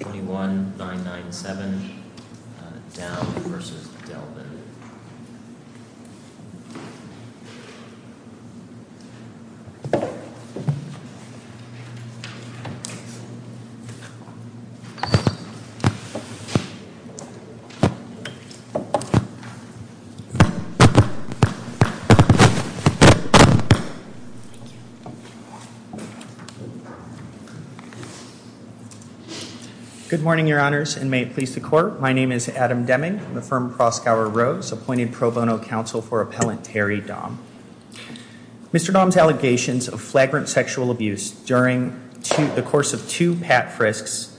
21-997, Daum v. Delvin. Good morning, your honors, and may it please the court. My name is Adam Deming. I'm the firm of Proskauer Rose, appointed pro bono counsel for appellant Terry Daum. Mr. Daum's allegations of flagrant sexual abuse during the course of two Pat Frisks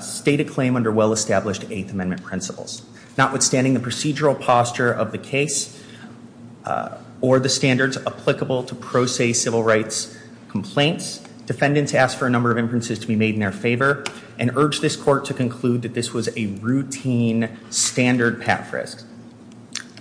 state a claim under well-established Eighth Amendment principles. Notwithstanding the procedural posture of the case defendants asked for a number of inferences to be made in their favor and urged this court to conclude that this was a routine standard Pat Frisk.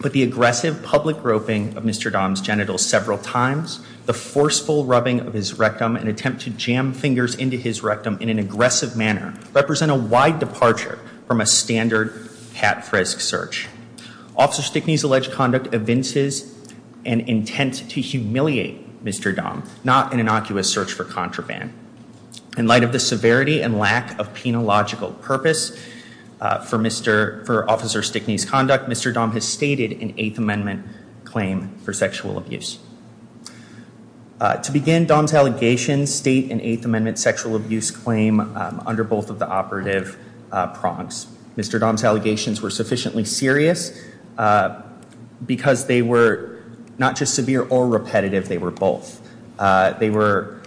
But the aggressive public groping of Mr. Daum's genitals several times, the forceful rubbing of his rectum, an attempt to jam fingers into his rectum in an aggressive manner represent a wide departure from a standard Pat Frisk search. Officer Stickney's alleged conduct evinces an intent to humiliate Mr. Daum, not an innocuous search for contraband. In light of the severity and lack of penological purpose for Officer Stickney's conduct, Mr. Daum has stated an Eighth Amendment claim for sexual abuse. To begin, Daum's allegations state an Eighth Amendment sexual abuse claim under both of the operative prongs. Mr. Daum's allegations were sufficiently serious because they were not just severe or repetitive, they were both. They were,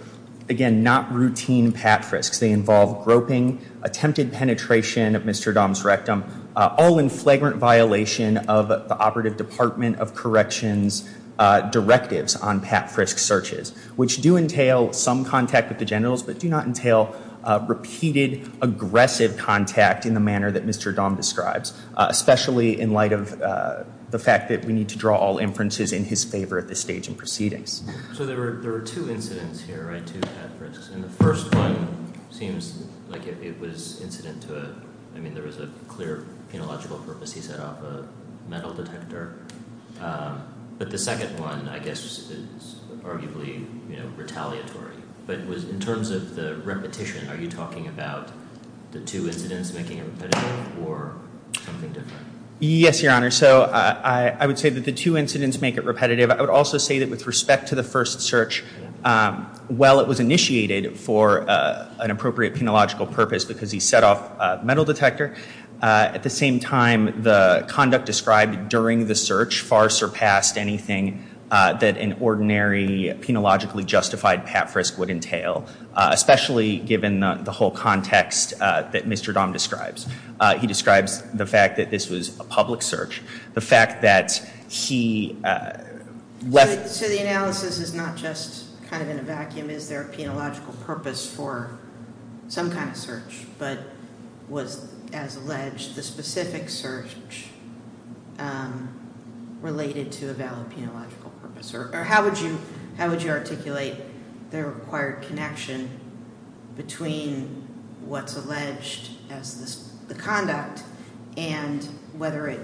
again, not routine Pat Frisks. They involve groping, attempted penetration of Mr. Daum's rectum, all in flagrant violation of the operative Department of Corrections directives on Pat Frisk searches, which do entail some contact with the genitals, but do not entail repeated aggressive contact in the manner that Mr. Daum describes, especially in light of the fact that we need to draw all inferences in his favor at this stage in proceedings. So there were two incidents here, right? Two Pat Frisks. And the first one seems like it was incident to a, I mean, there was a clear penological purpose. He set off a metal detector. But the second one, I guess, is arguably retaliatory. But in terms of the repetition, are you talking about the two incidents making it repetitive or something different? Yes, Your Honor. So I would say that the two incidents make it repetitive. I would also say that with respect to the first search, while it was initiated for an appropriate penological purpose because he set off a metal detector, at the same time, the conduct described during the search far surpassed anything that an ordinary penologically justified Pat Frisk would entail, especially given the whole context that Mr. Daum describes. He describes the fact that this was a public search, the fact that he left. So the analysis is not just kind of in a vacuum. Is there a penological purpose for some kind of search? But was, as alleged, the specific search related to a valid penological purpose? Or how would you articulate the required connection between what's alleged as the conduct and whether it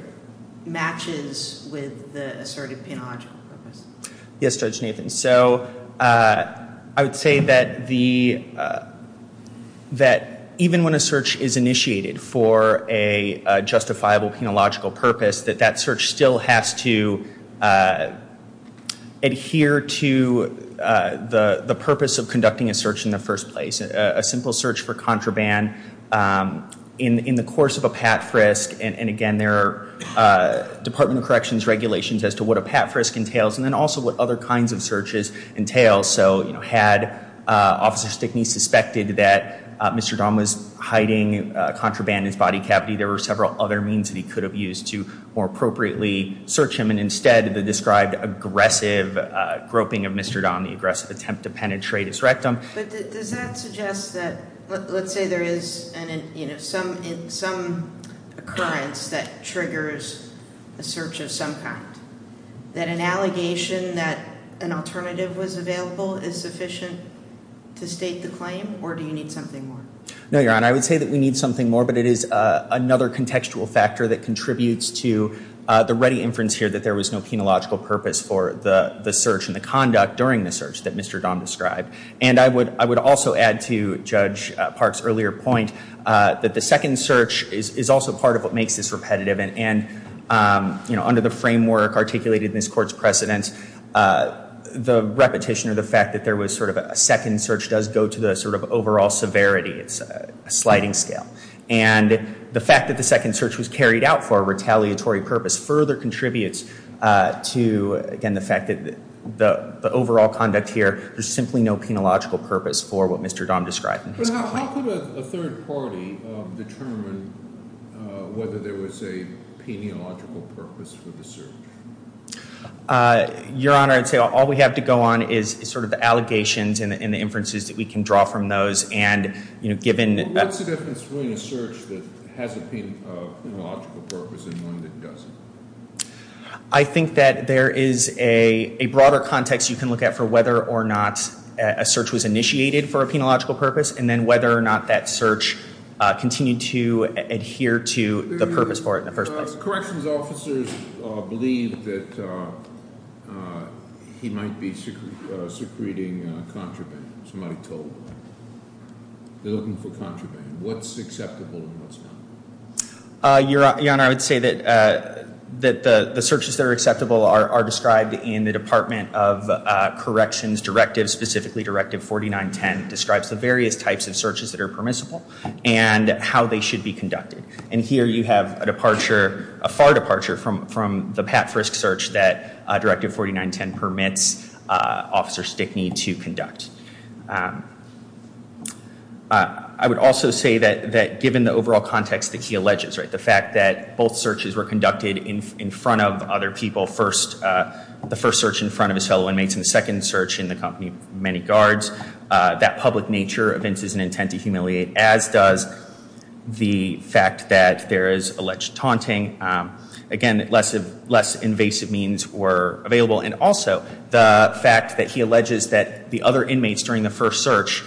matches with the asserted penological purpose? Yes, Judge Nathan. So I would say that even when a search is initiated for a justifiable penological purpose, that that search still has to adhere to the purpose of conducting a search in the first place. A simple search for contraband in the course of a Pat Frisk. And again, there are Department of Corrections regulations as to what a Pat Frisk entails, and then also what other kinds of searches entail. So had Officer Stickney suspected that Mr. Daum was hiding contraband in his body cavity, there were several other means that he could have used to more appropriately search him. And instead, the described aggressive groping of Mr. Daum, the aggressive attempt to penetrate his rectum. Does that suggest that, let's say there is some occurrence that triggers a search of some kind, that an allegation that an alternative was available is sufficient to state the claim? Or do you need something more? No, Your Honor. I would say that we need something more, but it is another contextual factor that contributes to the ready inference here that there was no penological purpose for the search and the conduct during the search that Mr. Daum described. And I would also add to Judge Park's earlier point that the second search is also part of what makes this repetitive. And under the framework articulated in this court's precedence, the repetition or the fact that there was a second search does go to the overall severity. It's a sliding scale. And the fact that the second search was carried out for a retaliatory purpose further contributes to, again, the fact that the overall conduct here, there's simply no penological purpose for what Mr. Daum described in his complaint. But how could a third party determine whether there was a penological purpose for the search? Your Honor, I'd say all we have to go on is sort of the allegations and the inferences that we can draw from those. And given that that's What's the difference between a search that has a penological purpose and one that doesn't? I think that there is a broader context you can look at for whether or not a search was initiated for a penological purpose, and then whether or not that search continued to adhere to the purpose for it in the first place. Corrections officers believe that he might be secreting contraband, somebody told them. They're looking for contraband. What's acceptable and what's not? Your Honor, I would say that the searches that are acceptable are described in the Department of Corrections Directive, specifically Directive 4910, describes the various types of searches that are permissible and how they should be conducted. And here you have a departure, a far departure, from the Pat Frisk search that Directive 4910 permits Officer Stickney to conduct. I would also say that given the overall context that he alleges, the fact that both searches were conducted in front of other people, the first search in front of his fellow inmates and the second search in the company of many guards, that public nature evinces an intent to humiliate, as does the fact that there is alleged taunting. Again, less invasive means were available. And also, the fact that he alleges that the other inmates during the first search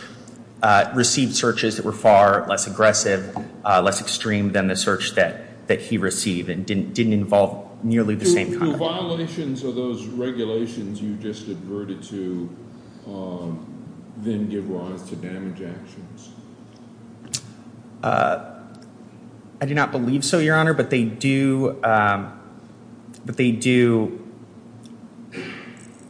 received searches that were far less aggressive, less extreme than the search that he received didn't involve nearly the same kind of thing. Do violations of those regulations you just adverted to then give rise to damage actions? I do not believe so, Your Honor, but they do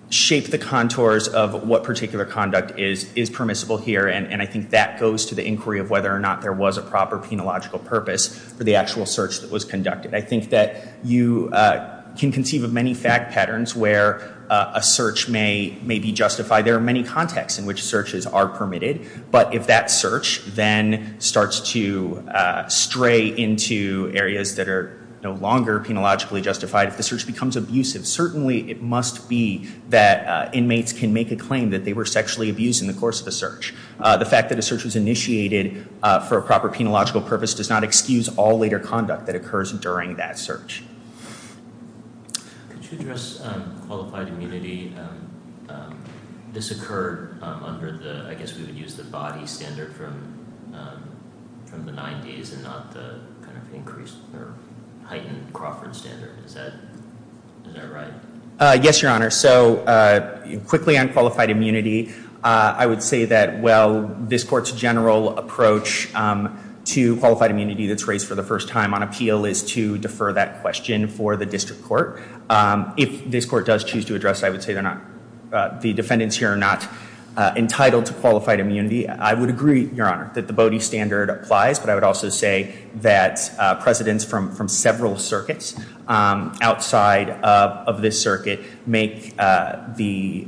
shape the contours of what particular conduct is permissible here. And I think that goes to the inquiry of whether or not there was a proper penological purpose for the actual search that was conducted. I think that you can conceive of many fact patterns where a search may be justified. There are many contexts in which searches are permitted. But if that search then starts to stray into areas that are no longer penologically justified, if the search becomes abusive, certainly it must be that inmates can make a claim that they were sexually abused in the course of a search. The fact that a search was initiated for a proper penological purpose does not excuse all later conduct that occurs during that search. Could you address qualified immunity? This occurred under the, I guess we would use the body standard from the 90s and not the kind of increased or heightened Crawford standard. Is that right? Yes, Your Honor. So quickly on qualified immunity, I would say that, well, this court's general approach to qualified immunity that's raised for the first time on appeal is to defer that question for the district court. If this court does choose to address it, I would say the defendants here are not entitled to qualified immunity. I would agree, Your Honor, that the body standard applies. But I would also say that precedents from several circuits outside of this circuit make the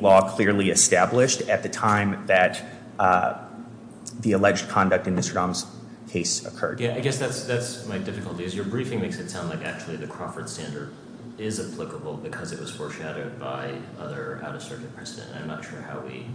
law clearly established at the time that the alleged conduct in Mr. Dahm's case occurred. Yeah, I guess that's my difficulty, is your briefing makes it sound like actually the Crawford standard is applicable because it was foreshadowed by other out-of-circuit precedent. I'm not sure how we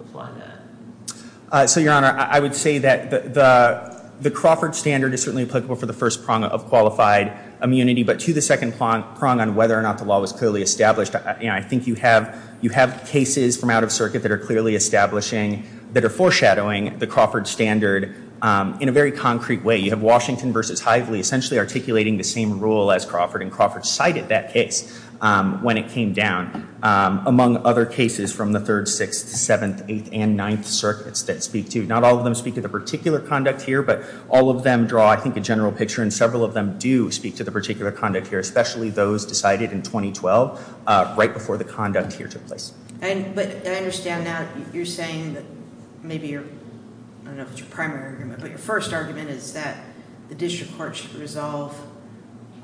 apply that. So, Your Honor, I would say that the Crawford standard is certainly applicable for the first prong of qualified immunity. But to the second prong on whether or not the law was clearly established, I think you have cases from out of circuit that are clearly establishing, that are foreshadowing the Crawford standard in a very concrete way. You have Washington versus Hively essentially articulating the same rule as Crawford. And Crawford cited that case when it came down, among other cases from the third, sixth, seventh, eighth, and ninth circuits that speak to. Not all of them speak to the particular conduct here, but all of them draw, I think, a general picture. And several of them do speak to the particular conduct here, especially those decided in 2012, right before the conduct here took place. But I understand now, you're saying that maybe you're, I don't know if it's your primary argument, but your first argument is that the district court should resolve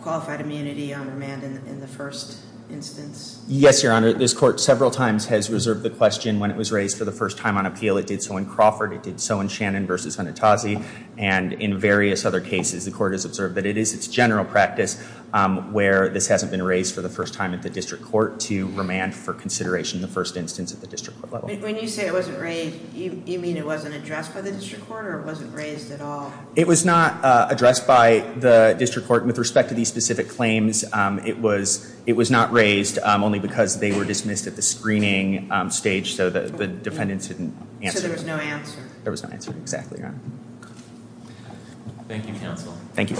qualified immunity on remand in the first instance. Yes, Your Honor. This court several times has reserved the question when it was raised for the first time on appeal. It did so in Crawford. It did so in Shannon versus Honitazi. And in various other cases, the court has observed that it is its general practice where this hasn't been raised for the first time at the district court to remand for consideration in the first instance at the district court level. When you say it wasn't raised, you mean it wasn't addressed by the district court, or it wasn't raised at all? It was not addressed by the district court. And with respect to these specific claims, it was not raised, only because they were dismissed at the screening stage, so the defendants didn't answer. So there was no answer. There was no answer, exactly, Your Honor. Thank you, counsel. Thank you.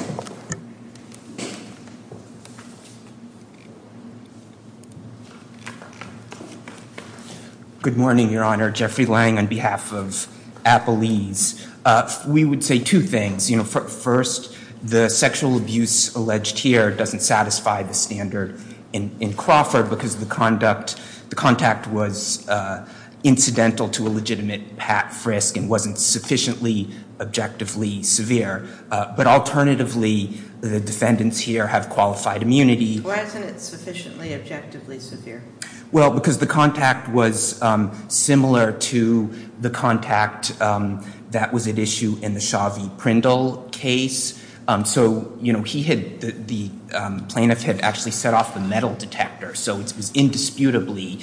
Good morning, Your Honor. Jeffrey Lange on behalf of Appalese. We would say two things. First, the sexual abuse alleged here doesn't satisfy the standard in Crawford, because the contact was incidental to a legitimate frisk and wasn't sufficiently objectively severe. But alternatively, the defendants here have qualified immunity. Wasn't it sufficiently objective? Subjectively severe. Well, because the contact was similar to the contact that was at issue in the Shavee Prindle case. So the plaintiff had actually set off the metal detector, so it was indisputably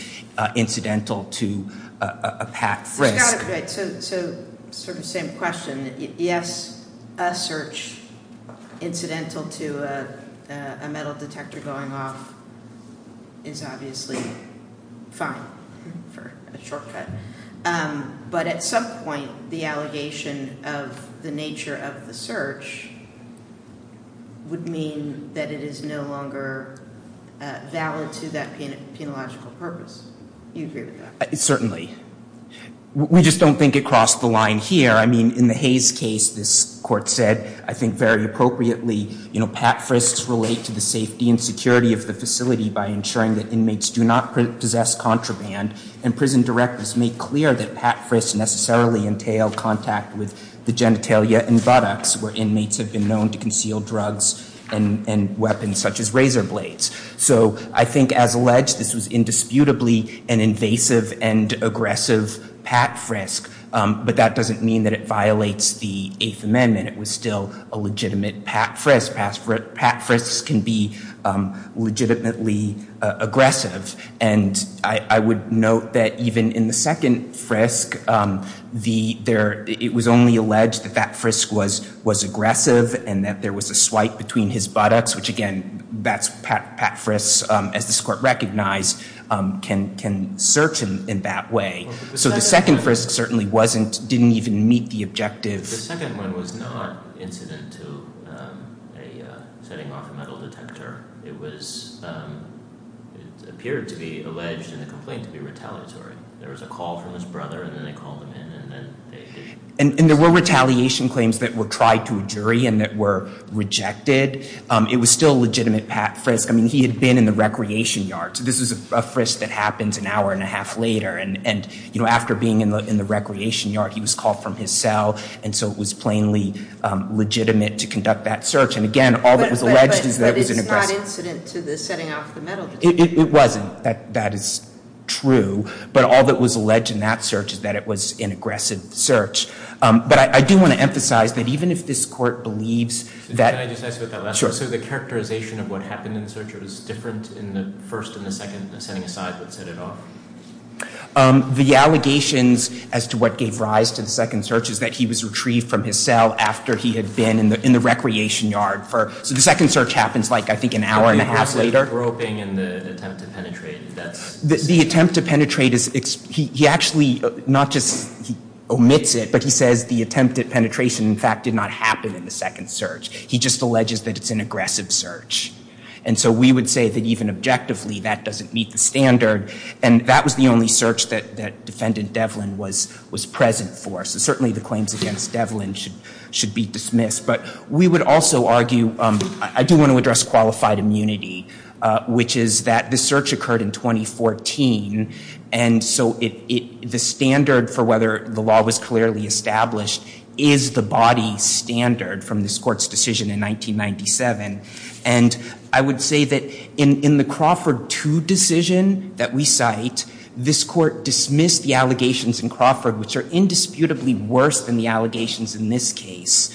incidental to a packed frisk. So sort of same question. Yes, a search incidental to a metal detector going off is obviously fine for a shortcut. But at some point, the allegation of the nature of the search would mean that it is no longer valid to that penological purpose. You agree with that? Certainly. We just don't think it crossed the line here. In the Hayes case, this court said, I think very appropriately, packed frisks relate to the safety and security of the facility by ensuring that inmates do not possess contraband. And prison directors make clear that packed frisks necessarily entail contact with the genitalia and buttocks, where inmates have been known to conceal drugs and weapons such as razor blades. So I think, as alleged, this was indisputably an invasive and aggressive packed frisk. But that doesn't mean that it violates the Eighth Amendment. It was still a legitimate packed frisk. Packed frisks can be legitimately aggressive. And I would note that even in the second frisk, it was only alleged that that frisk was aggressive and that there was a swipe between his buttocks, which again, that's packed frisks, as this court recognized, can search him in that way. So the second frisk certainly didn't even meet the objective. The second one was not incident to a setting off a metal detector. It appeared to be alleged in the complaint to be retaliatory. There was a call from his brother, and then they called him in. And there were retaliation claims that were tried to a jury and that were rejected. It was still a legitimate packed frisk. I mean, he had been in the recreation yard. So this is a frisk that happens an hour and a half later. And after being in the recreation yard, he was called from his cell. And so it was plainly legitimate to conduct that search. And again, all that was alleged is that it was an aggressive. But it's not incident to the setting off the metal detector. It wasn't. That is true. But all that was alleged in that search is that it was an aggressive search. But I do want to emphasize that even if this court believes that. Can I just ask about that last one? So the characterization of what happened in the search was different in the first and the second setting aside that set it off? The allegations as to what gave rise to the second search is that he was retrieved from his cell after he had been in the recreation yard for. So the second search happens like, I think, an hour and a half later. The groping and the attempt to penetrate, that's? The attempt to penetrate is he actually not just omits it, but he says the attempt at penetration, in fact, did not happen in the second search. He just alleges that it's an aggressive search. And so we would say that even objectively, that doesn't meet the standard. And that was the only search that Defendant Devlin was present for. So certainly, the claims against Devlin should be dismissed. But we would also argue, I do want to address qualified immunity, which is that this search occurred in 2014. And so the standard for whether the law was clearly established is the body standard from this court's decision in 1997. And I would say that in the Crawford 2 decision that we cite, this court dismissed the allegations in Crawford, which are indisputably worse than the allegations in this case,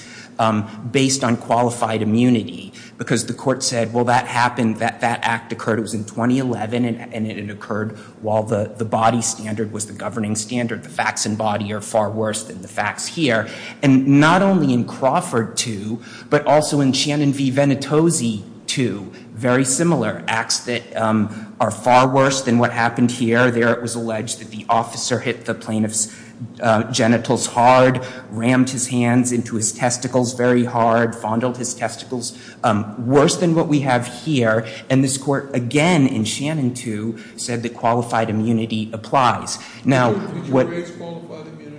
based on qualified immunity. Because the court said, well, that happened, that that act occurred. It was in 2011, and it occurred while the body standard was the governing standard. The facts in body are far worse than the facts here. And not only in Crawford 2, but also in Shannon v. Venitozzi 2, very similar, acts that are far worse than what happened here. There, it was alleged that the officer hit the plaintiff's genitals hard, rammed his hands into his testicles very hard, fondled his testicles. Worse than what we have here. And this court, again, in Shannon 2, said that qualified immunity applies. Now, what- Did you raise qualified immunity?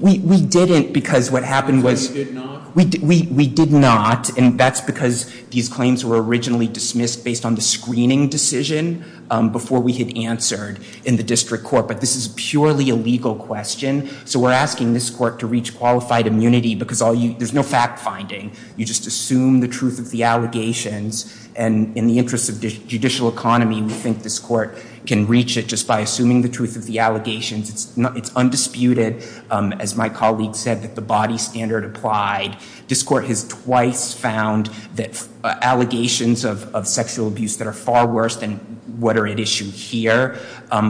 We didn't, because what happened was- You did not? We did not, and that's because these claims were originally dismissed based on the screening decision before we had answered in the district court. But this is purely a legal question. So we're asking this court to reach qualified immunity, because there's no fact-finding. You just assume the truth of the allegations. And in the interest of judicial economy, we think this court can reach it just by assuming the truth of the allegations. It's undisputed, as my colleague said, that the body standard applied. This court has twice found that allegations of sexual abuse that are far worse than what are at issue here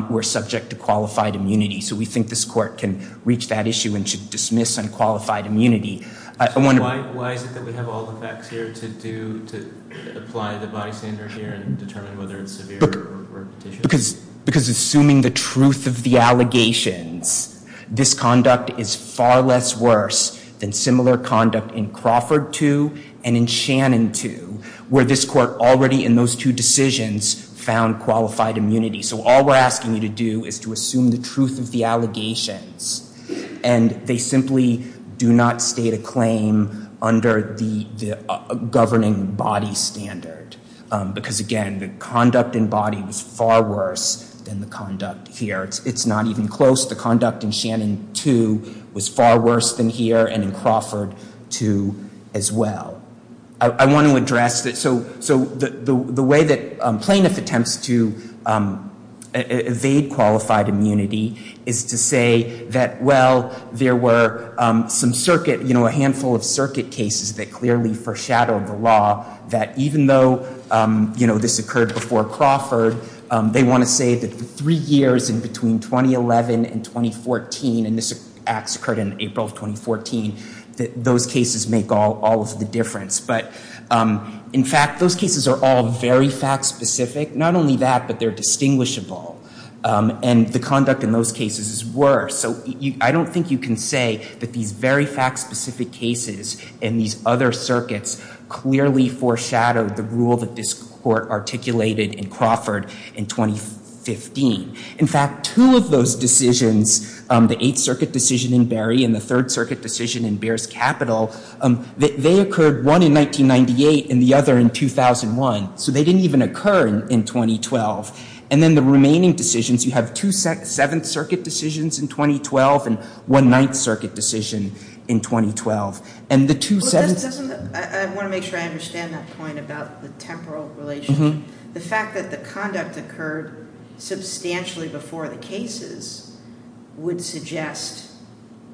were subject to qualified immunity. So we think this court can reach that issue and should dismiss unqualified immunity. I wonder- Why is it that we have all the facts here to apply the body standard here and determine whether it's severe or repetitious? Because assuming the truth of the allegations, this conduct is far less worse than similar conduct in Crawford 2 and in Shannon 2, where this court already in those two decisions found qualified immunity. So all we're asking you to do is to assume the truth of the allegations. And they simply do not state a claim under the governing body standard. Because again, the conduct in body was far worse than the conduct here. It's not even close. The conduct in Shannon 2 was far worse than here and in Crawford 2 as well. I want to address that. So the way that plaintiff attempts to evade qualified immunity is to say that, well, there were some circuit, you know, a handful of circuit cases that clearly foreshadowed the law that even though this occurred before Crawford, they want to say that for three years in between 2011 and 2014, and this act occurred in April of 2014, that those cases make all of the difference. But in fact, those cases are all very fact-specific. Not only that, but they're distinguishable. And the conduct in those cases is worse. So I don't think you can say that these very fact-specific cases and these other circuits clearly foreshadowed the rule that this court articulated in Crawford in 2015. In fact, two of those decisions, the Eighth Circuit decision in Berry and the Third Circuit decision in Beers Capital, they occurred one in 1998 and the other in 2001. So they didn't even occur in 2012. And then the remaining decisions, you have two Seventh Circuit decisions in 2012 and one Ninth Circuit decision in 2012. And the two Sevenths- I want to make sure I understand that point about the temporal relation. The fact that the conduct occurred substantially before the cases would suggest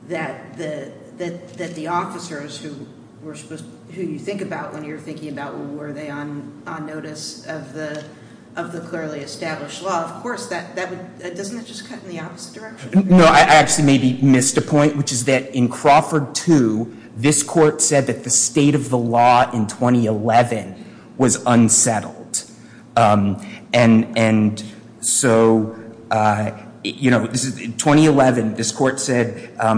that the officers who you think about when you're thinking about, well, were they on notice of the clearly established law? Of course, doesn't that just cut in the opposite direction? No, I actually maybe missed a point, which is that in Crawford II, this court said that the state of the law in 2011 was unsettled. And so, in 2011, this court said,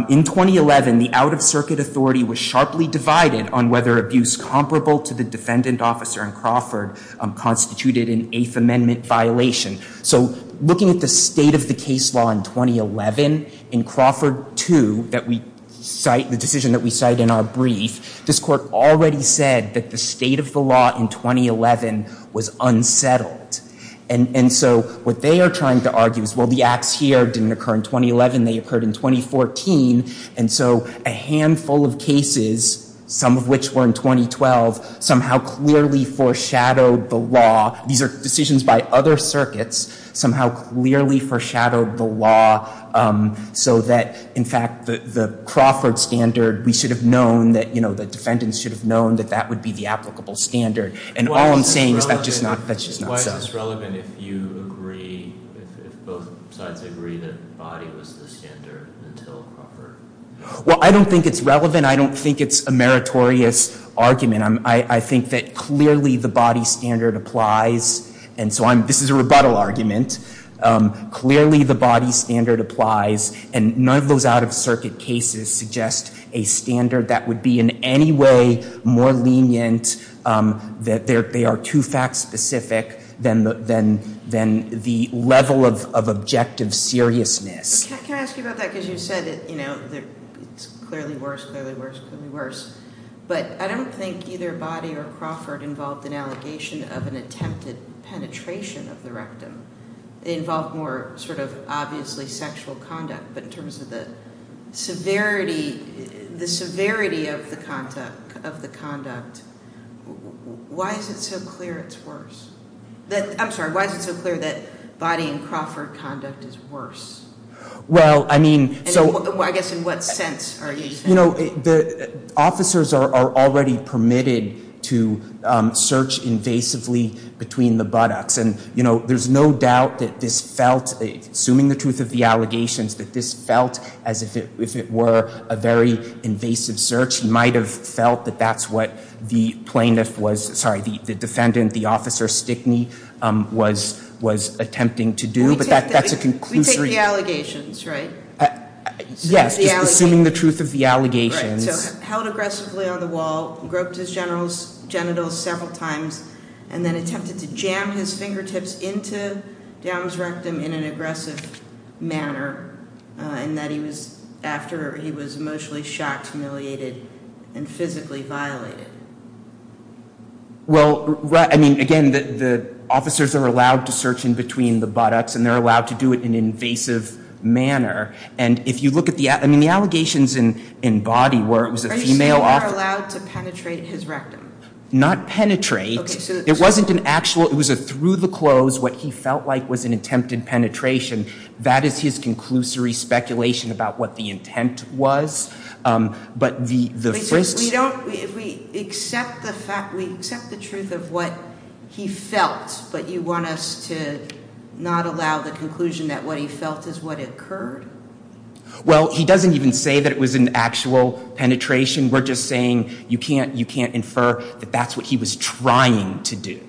in 2011, the out-of-circuit authority was sharply divided on whether abuse comparable to the defendant officer in Crawford constituted an Eighth Amendment violation. So looking at the state of the case law in 2011, in Crawford II that we cite, the decision that we cite in our brief, this court already said that the state of the law in 2011 was unsettled. And so, what they are trying to argue is, well, the acts here didn't occur in 2011, they occurred in 2014. And so, a handful of cases, some of which were in 2012, somehow clearly foreshadowed the law. These are decisions by other circuits, somehow clearly foreshadowed the law so that, in fact, the Crawford standard, we should have known that, you know, the defendants should have known that that would be the applicable standard. And all I'm saying is that's just not so. Why is this relevant if you agree, if both sides agree that body was the standard until Crawford? Well, I don't think it's relevant. I don't think it's a meritorious argument. I think that clearly the body standard applies. And so, this is a rebuttal argument. Clearly, the body standard applies. And none of those out-of-circuit cases suggest a standard that would be in any way more lenient, that they are too fact-specific than the level of objective seriousness. Can I ask you about that? Because you said that, you know, it's clearly worse, clearly worse, clearly worse. But I don't think either body or Crawford involved an allegation of an attempted penetration of the rectum. It involved more sort of, obviously, sexual conduct. But in terms of the severity, the severity of the conduct, why is it so clear it's worse? I'm sorry, why is it so clear that body and Crawford conduct is worse? Well, I mean, so. I guess, in what sense are you saying? You know, the officers are already permitted to search invasively between the buttocks. And, you know, there's no doubt that this felt, assuming the truth of the allegations, that this felt as if it were a very invasive search. You might have felt that that's what the plaintiff was, sorry, the defendant, the officer, Stickney, was attempting to do. But that's a conclusion. We take the allegations, right? Yes, assuming the truth of the allegations. Right, so held aggressively on the wall, groped his genitals several times, and then attempted to jam his fingertips into Down's rectum in an aggressive manner, and that he was, after he was emotionally shocked, humiliated, and physically violated. Well, I mean, again, the officers are allowed to search in between the buttocks, and they're allowed to do it in an invasive manner. And if you look at the, I mean, the allegations in body where it was a female officer. Are you saying they're allowed to penetrate his rectum? Not penetrate. It wasn't an actual, it was a through-the-clothes, what he felt like was an attempted penetration. That is his conclusory speculation about what the intent was. But the frisks. We don't, we accept the fact, we accept the truth of what he felt, but you want us to not allow the conclusion that what he felt is what occurred? Well, he doesn't even say that it was an actual penetration. We're just saying you can't infer that that's what he was trying to do.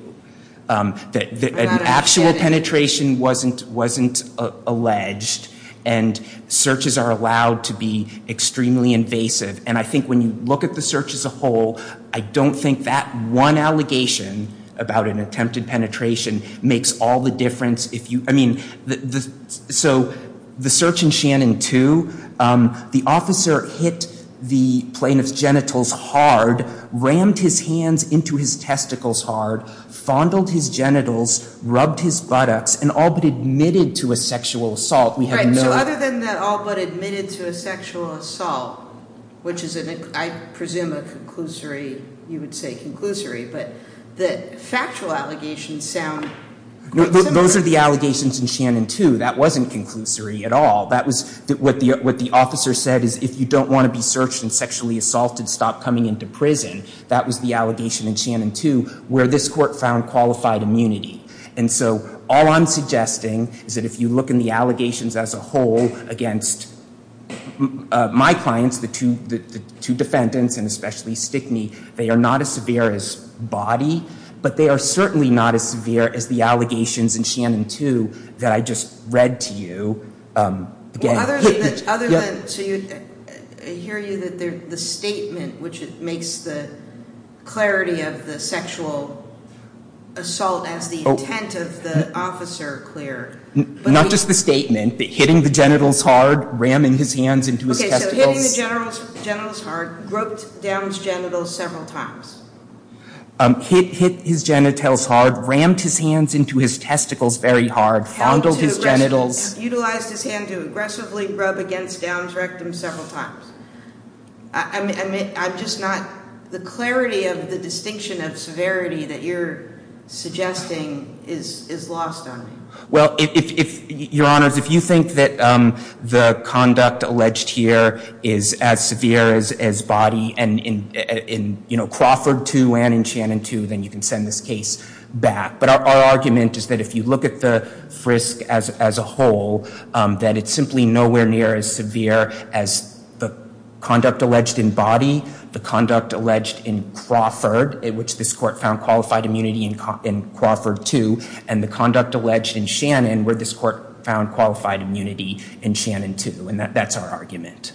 That an actual penetration wasn't alleged, and searches are allowed to be extremely invasive. And I think when you look at the search as a whole, I don't think that one allegation about an attempted penetration makes all the difference. I mean, so the search in Shannon Two, the officer hit the plaintiff's genitals hard, rammed his hands into his testicles hard, fondled his genitals, rubbed his buttocks, and all but admitted to a sexual assault. We have no- Right, so other than that all but admitted to a sexual assault, which is, I presume, a conclusory, you would say conclusory, but the factual allegations sound quite similar. So those are the allegations in Shannon Two. That wasn't conclusory at all. That was what the officer said, is if you don't want to be searched and sexually assaulted, stop coming into prison. That was the allegation in Shannon Two, where this court found qualified immunity. And so all I'm suggesting is that if you look in the allegations as a whole against my clients, the two defendants, and especially Stickney, they are not as severe as body, but they are certainly not as severe as the allegations in Shannon Two that I just read to you. Well, other than, so I hear you that the statement, which makes the clarity of the sexual assault as the intent of the officer clear. Not just the statement, but hitting the genitals hard, ramming his hands into his testicles. Okay, so hitting the genitals hard, groped down his genitals several times. Hit his genitals hard, rammed his hands into his testicles very hard, fondled his genitals. Utilized his hand to aggressively rub against Down's rectum several times. I'm just not, the clarity of the distinction of severity that you're suggesting is lost on me. Well, if, your honors, if you think that the conduct alleged here is as severe as body and in Crawford Two and in Shannon Two, then you can send this case back. But our argument is that if you look at the frisk as a whole that it's simply nowhere near as severe as the conduct alleged in body, the conduct alleged in Crawford, in which this court found qualified immunity in Crawford Two, and the conduct alleged in Shannon, where this court found qualified immunity in Shannon Two. And that's our argument.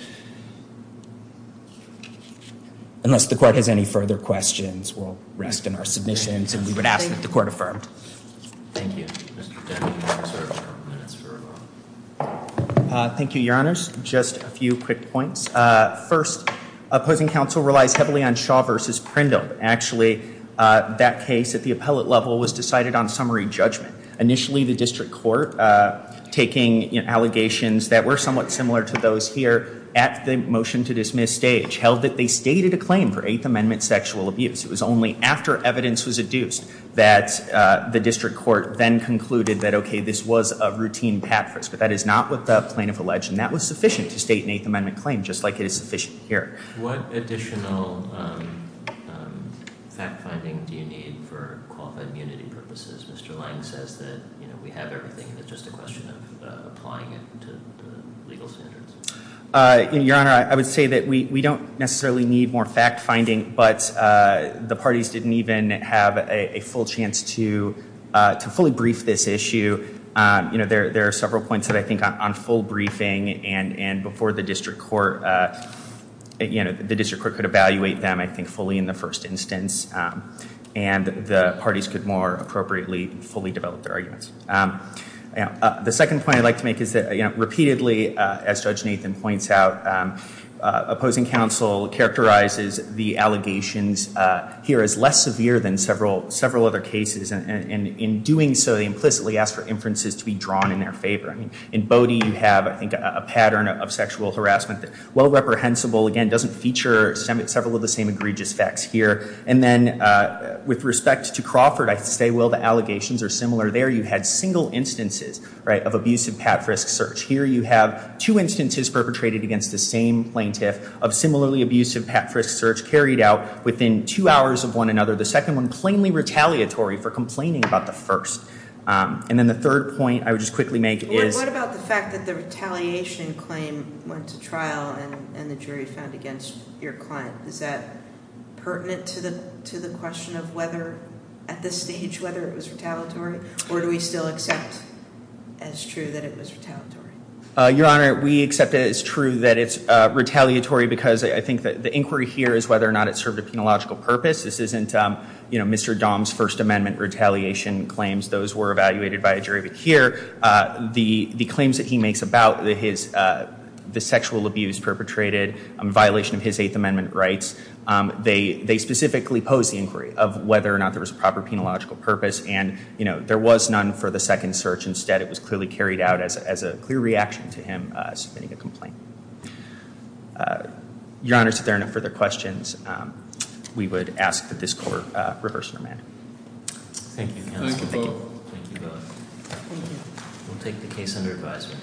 Unless the court has any further questions, we'll rest in our submissions and we would ask that the court affirm. Thank you. Thank you, your honors. Just a few quick points. First, opposing counsel relies heavily on Shaw versus Prindle. Actually, that case at the appellate level was decided on summary judgment. Initially, the district court taking allegations that were somewhat similar to those here at the motion to dismiss stage, held that they stated a claim for Eighth Amendment sexual abuse. It was only after evidence was adduced that the district court then concluded that, okay, this was a routine pat frisk. But that is not what the plaintiff alleged. And that was sufficient to state an Eighth Amendment claim, just like it is sufficient here. What additional fact finding do you need for qualified immunity purposes? Mr. Lange says that we have everything. It's just a question of applying it to the legal standards. Your honor, I would say that we don't necessarily need more fact finding. But the parties didn't even have a full chance to fully brief this issue. There are several points that I think on full briefing and before the district court, the district court could evaluate them, I think, fully in the first instance. And the parties could more appropriately fully develop their arguments. The second point I'd like to make is that, repeatedly, as Judge Nathan points out, opposing counsel characterizes the allegations here as less severe than several other cases. And in doing so, they implicitly ask for inferences to be drawn in their favor. In Bodie, you have, I think, a pattern of sexual harassment that, while reprehensible, again, doesn't feature several of the same egregious facts here. And then, with respect to Crawford, I say, well, the allegations are similar there. You had single instances of abusive pat frisk search. Here, you have two instances perpetrated against the same plaintiff of similarly abusive pat frisk search carried out within two hours of one another. The second one, plainly retaliatory for complaining about the first. And then the third point I would just quickly make is. What about the fact that the retaliation claim went to trial and the jury found against your client? Is that pertinent to the question of whether, at this stage, whether it was retaliatory? Or do we still accept as true that it was retaliatory? Your Honor, we accept it as true that it's retaliatory because I think that the inquiry here is whether or not it served a penological purpose. This isn't Mr. Dahm's First Amendment retaliation claims. Those were evaluated by a jury. But here, the claims that he makes about the sexual abuse perpetrated in violation of his Eighth Amendment rights, they specifically pose the inquiry of whether or not there was a proper penological purpose. And there was none for the second search. Instead, it was clearly carried out as a clear reaction to him submitting a complaint. Your Honor, if there are no further questions, we would ask that this court reverse your amendment. Thank you, counsel. Thank you both. Thank you both. We'll take the case under advisory.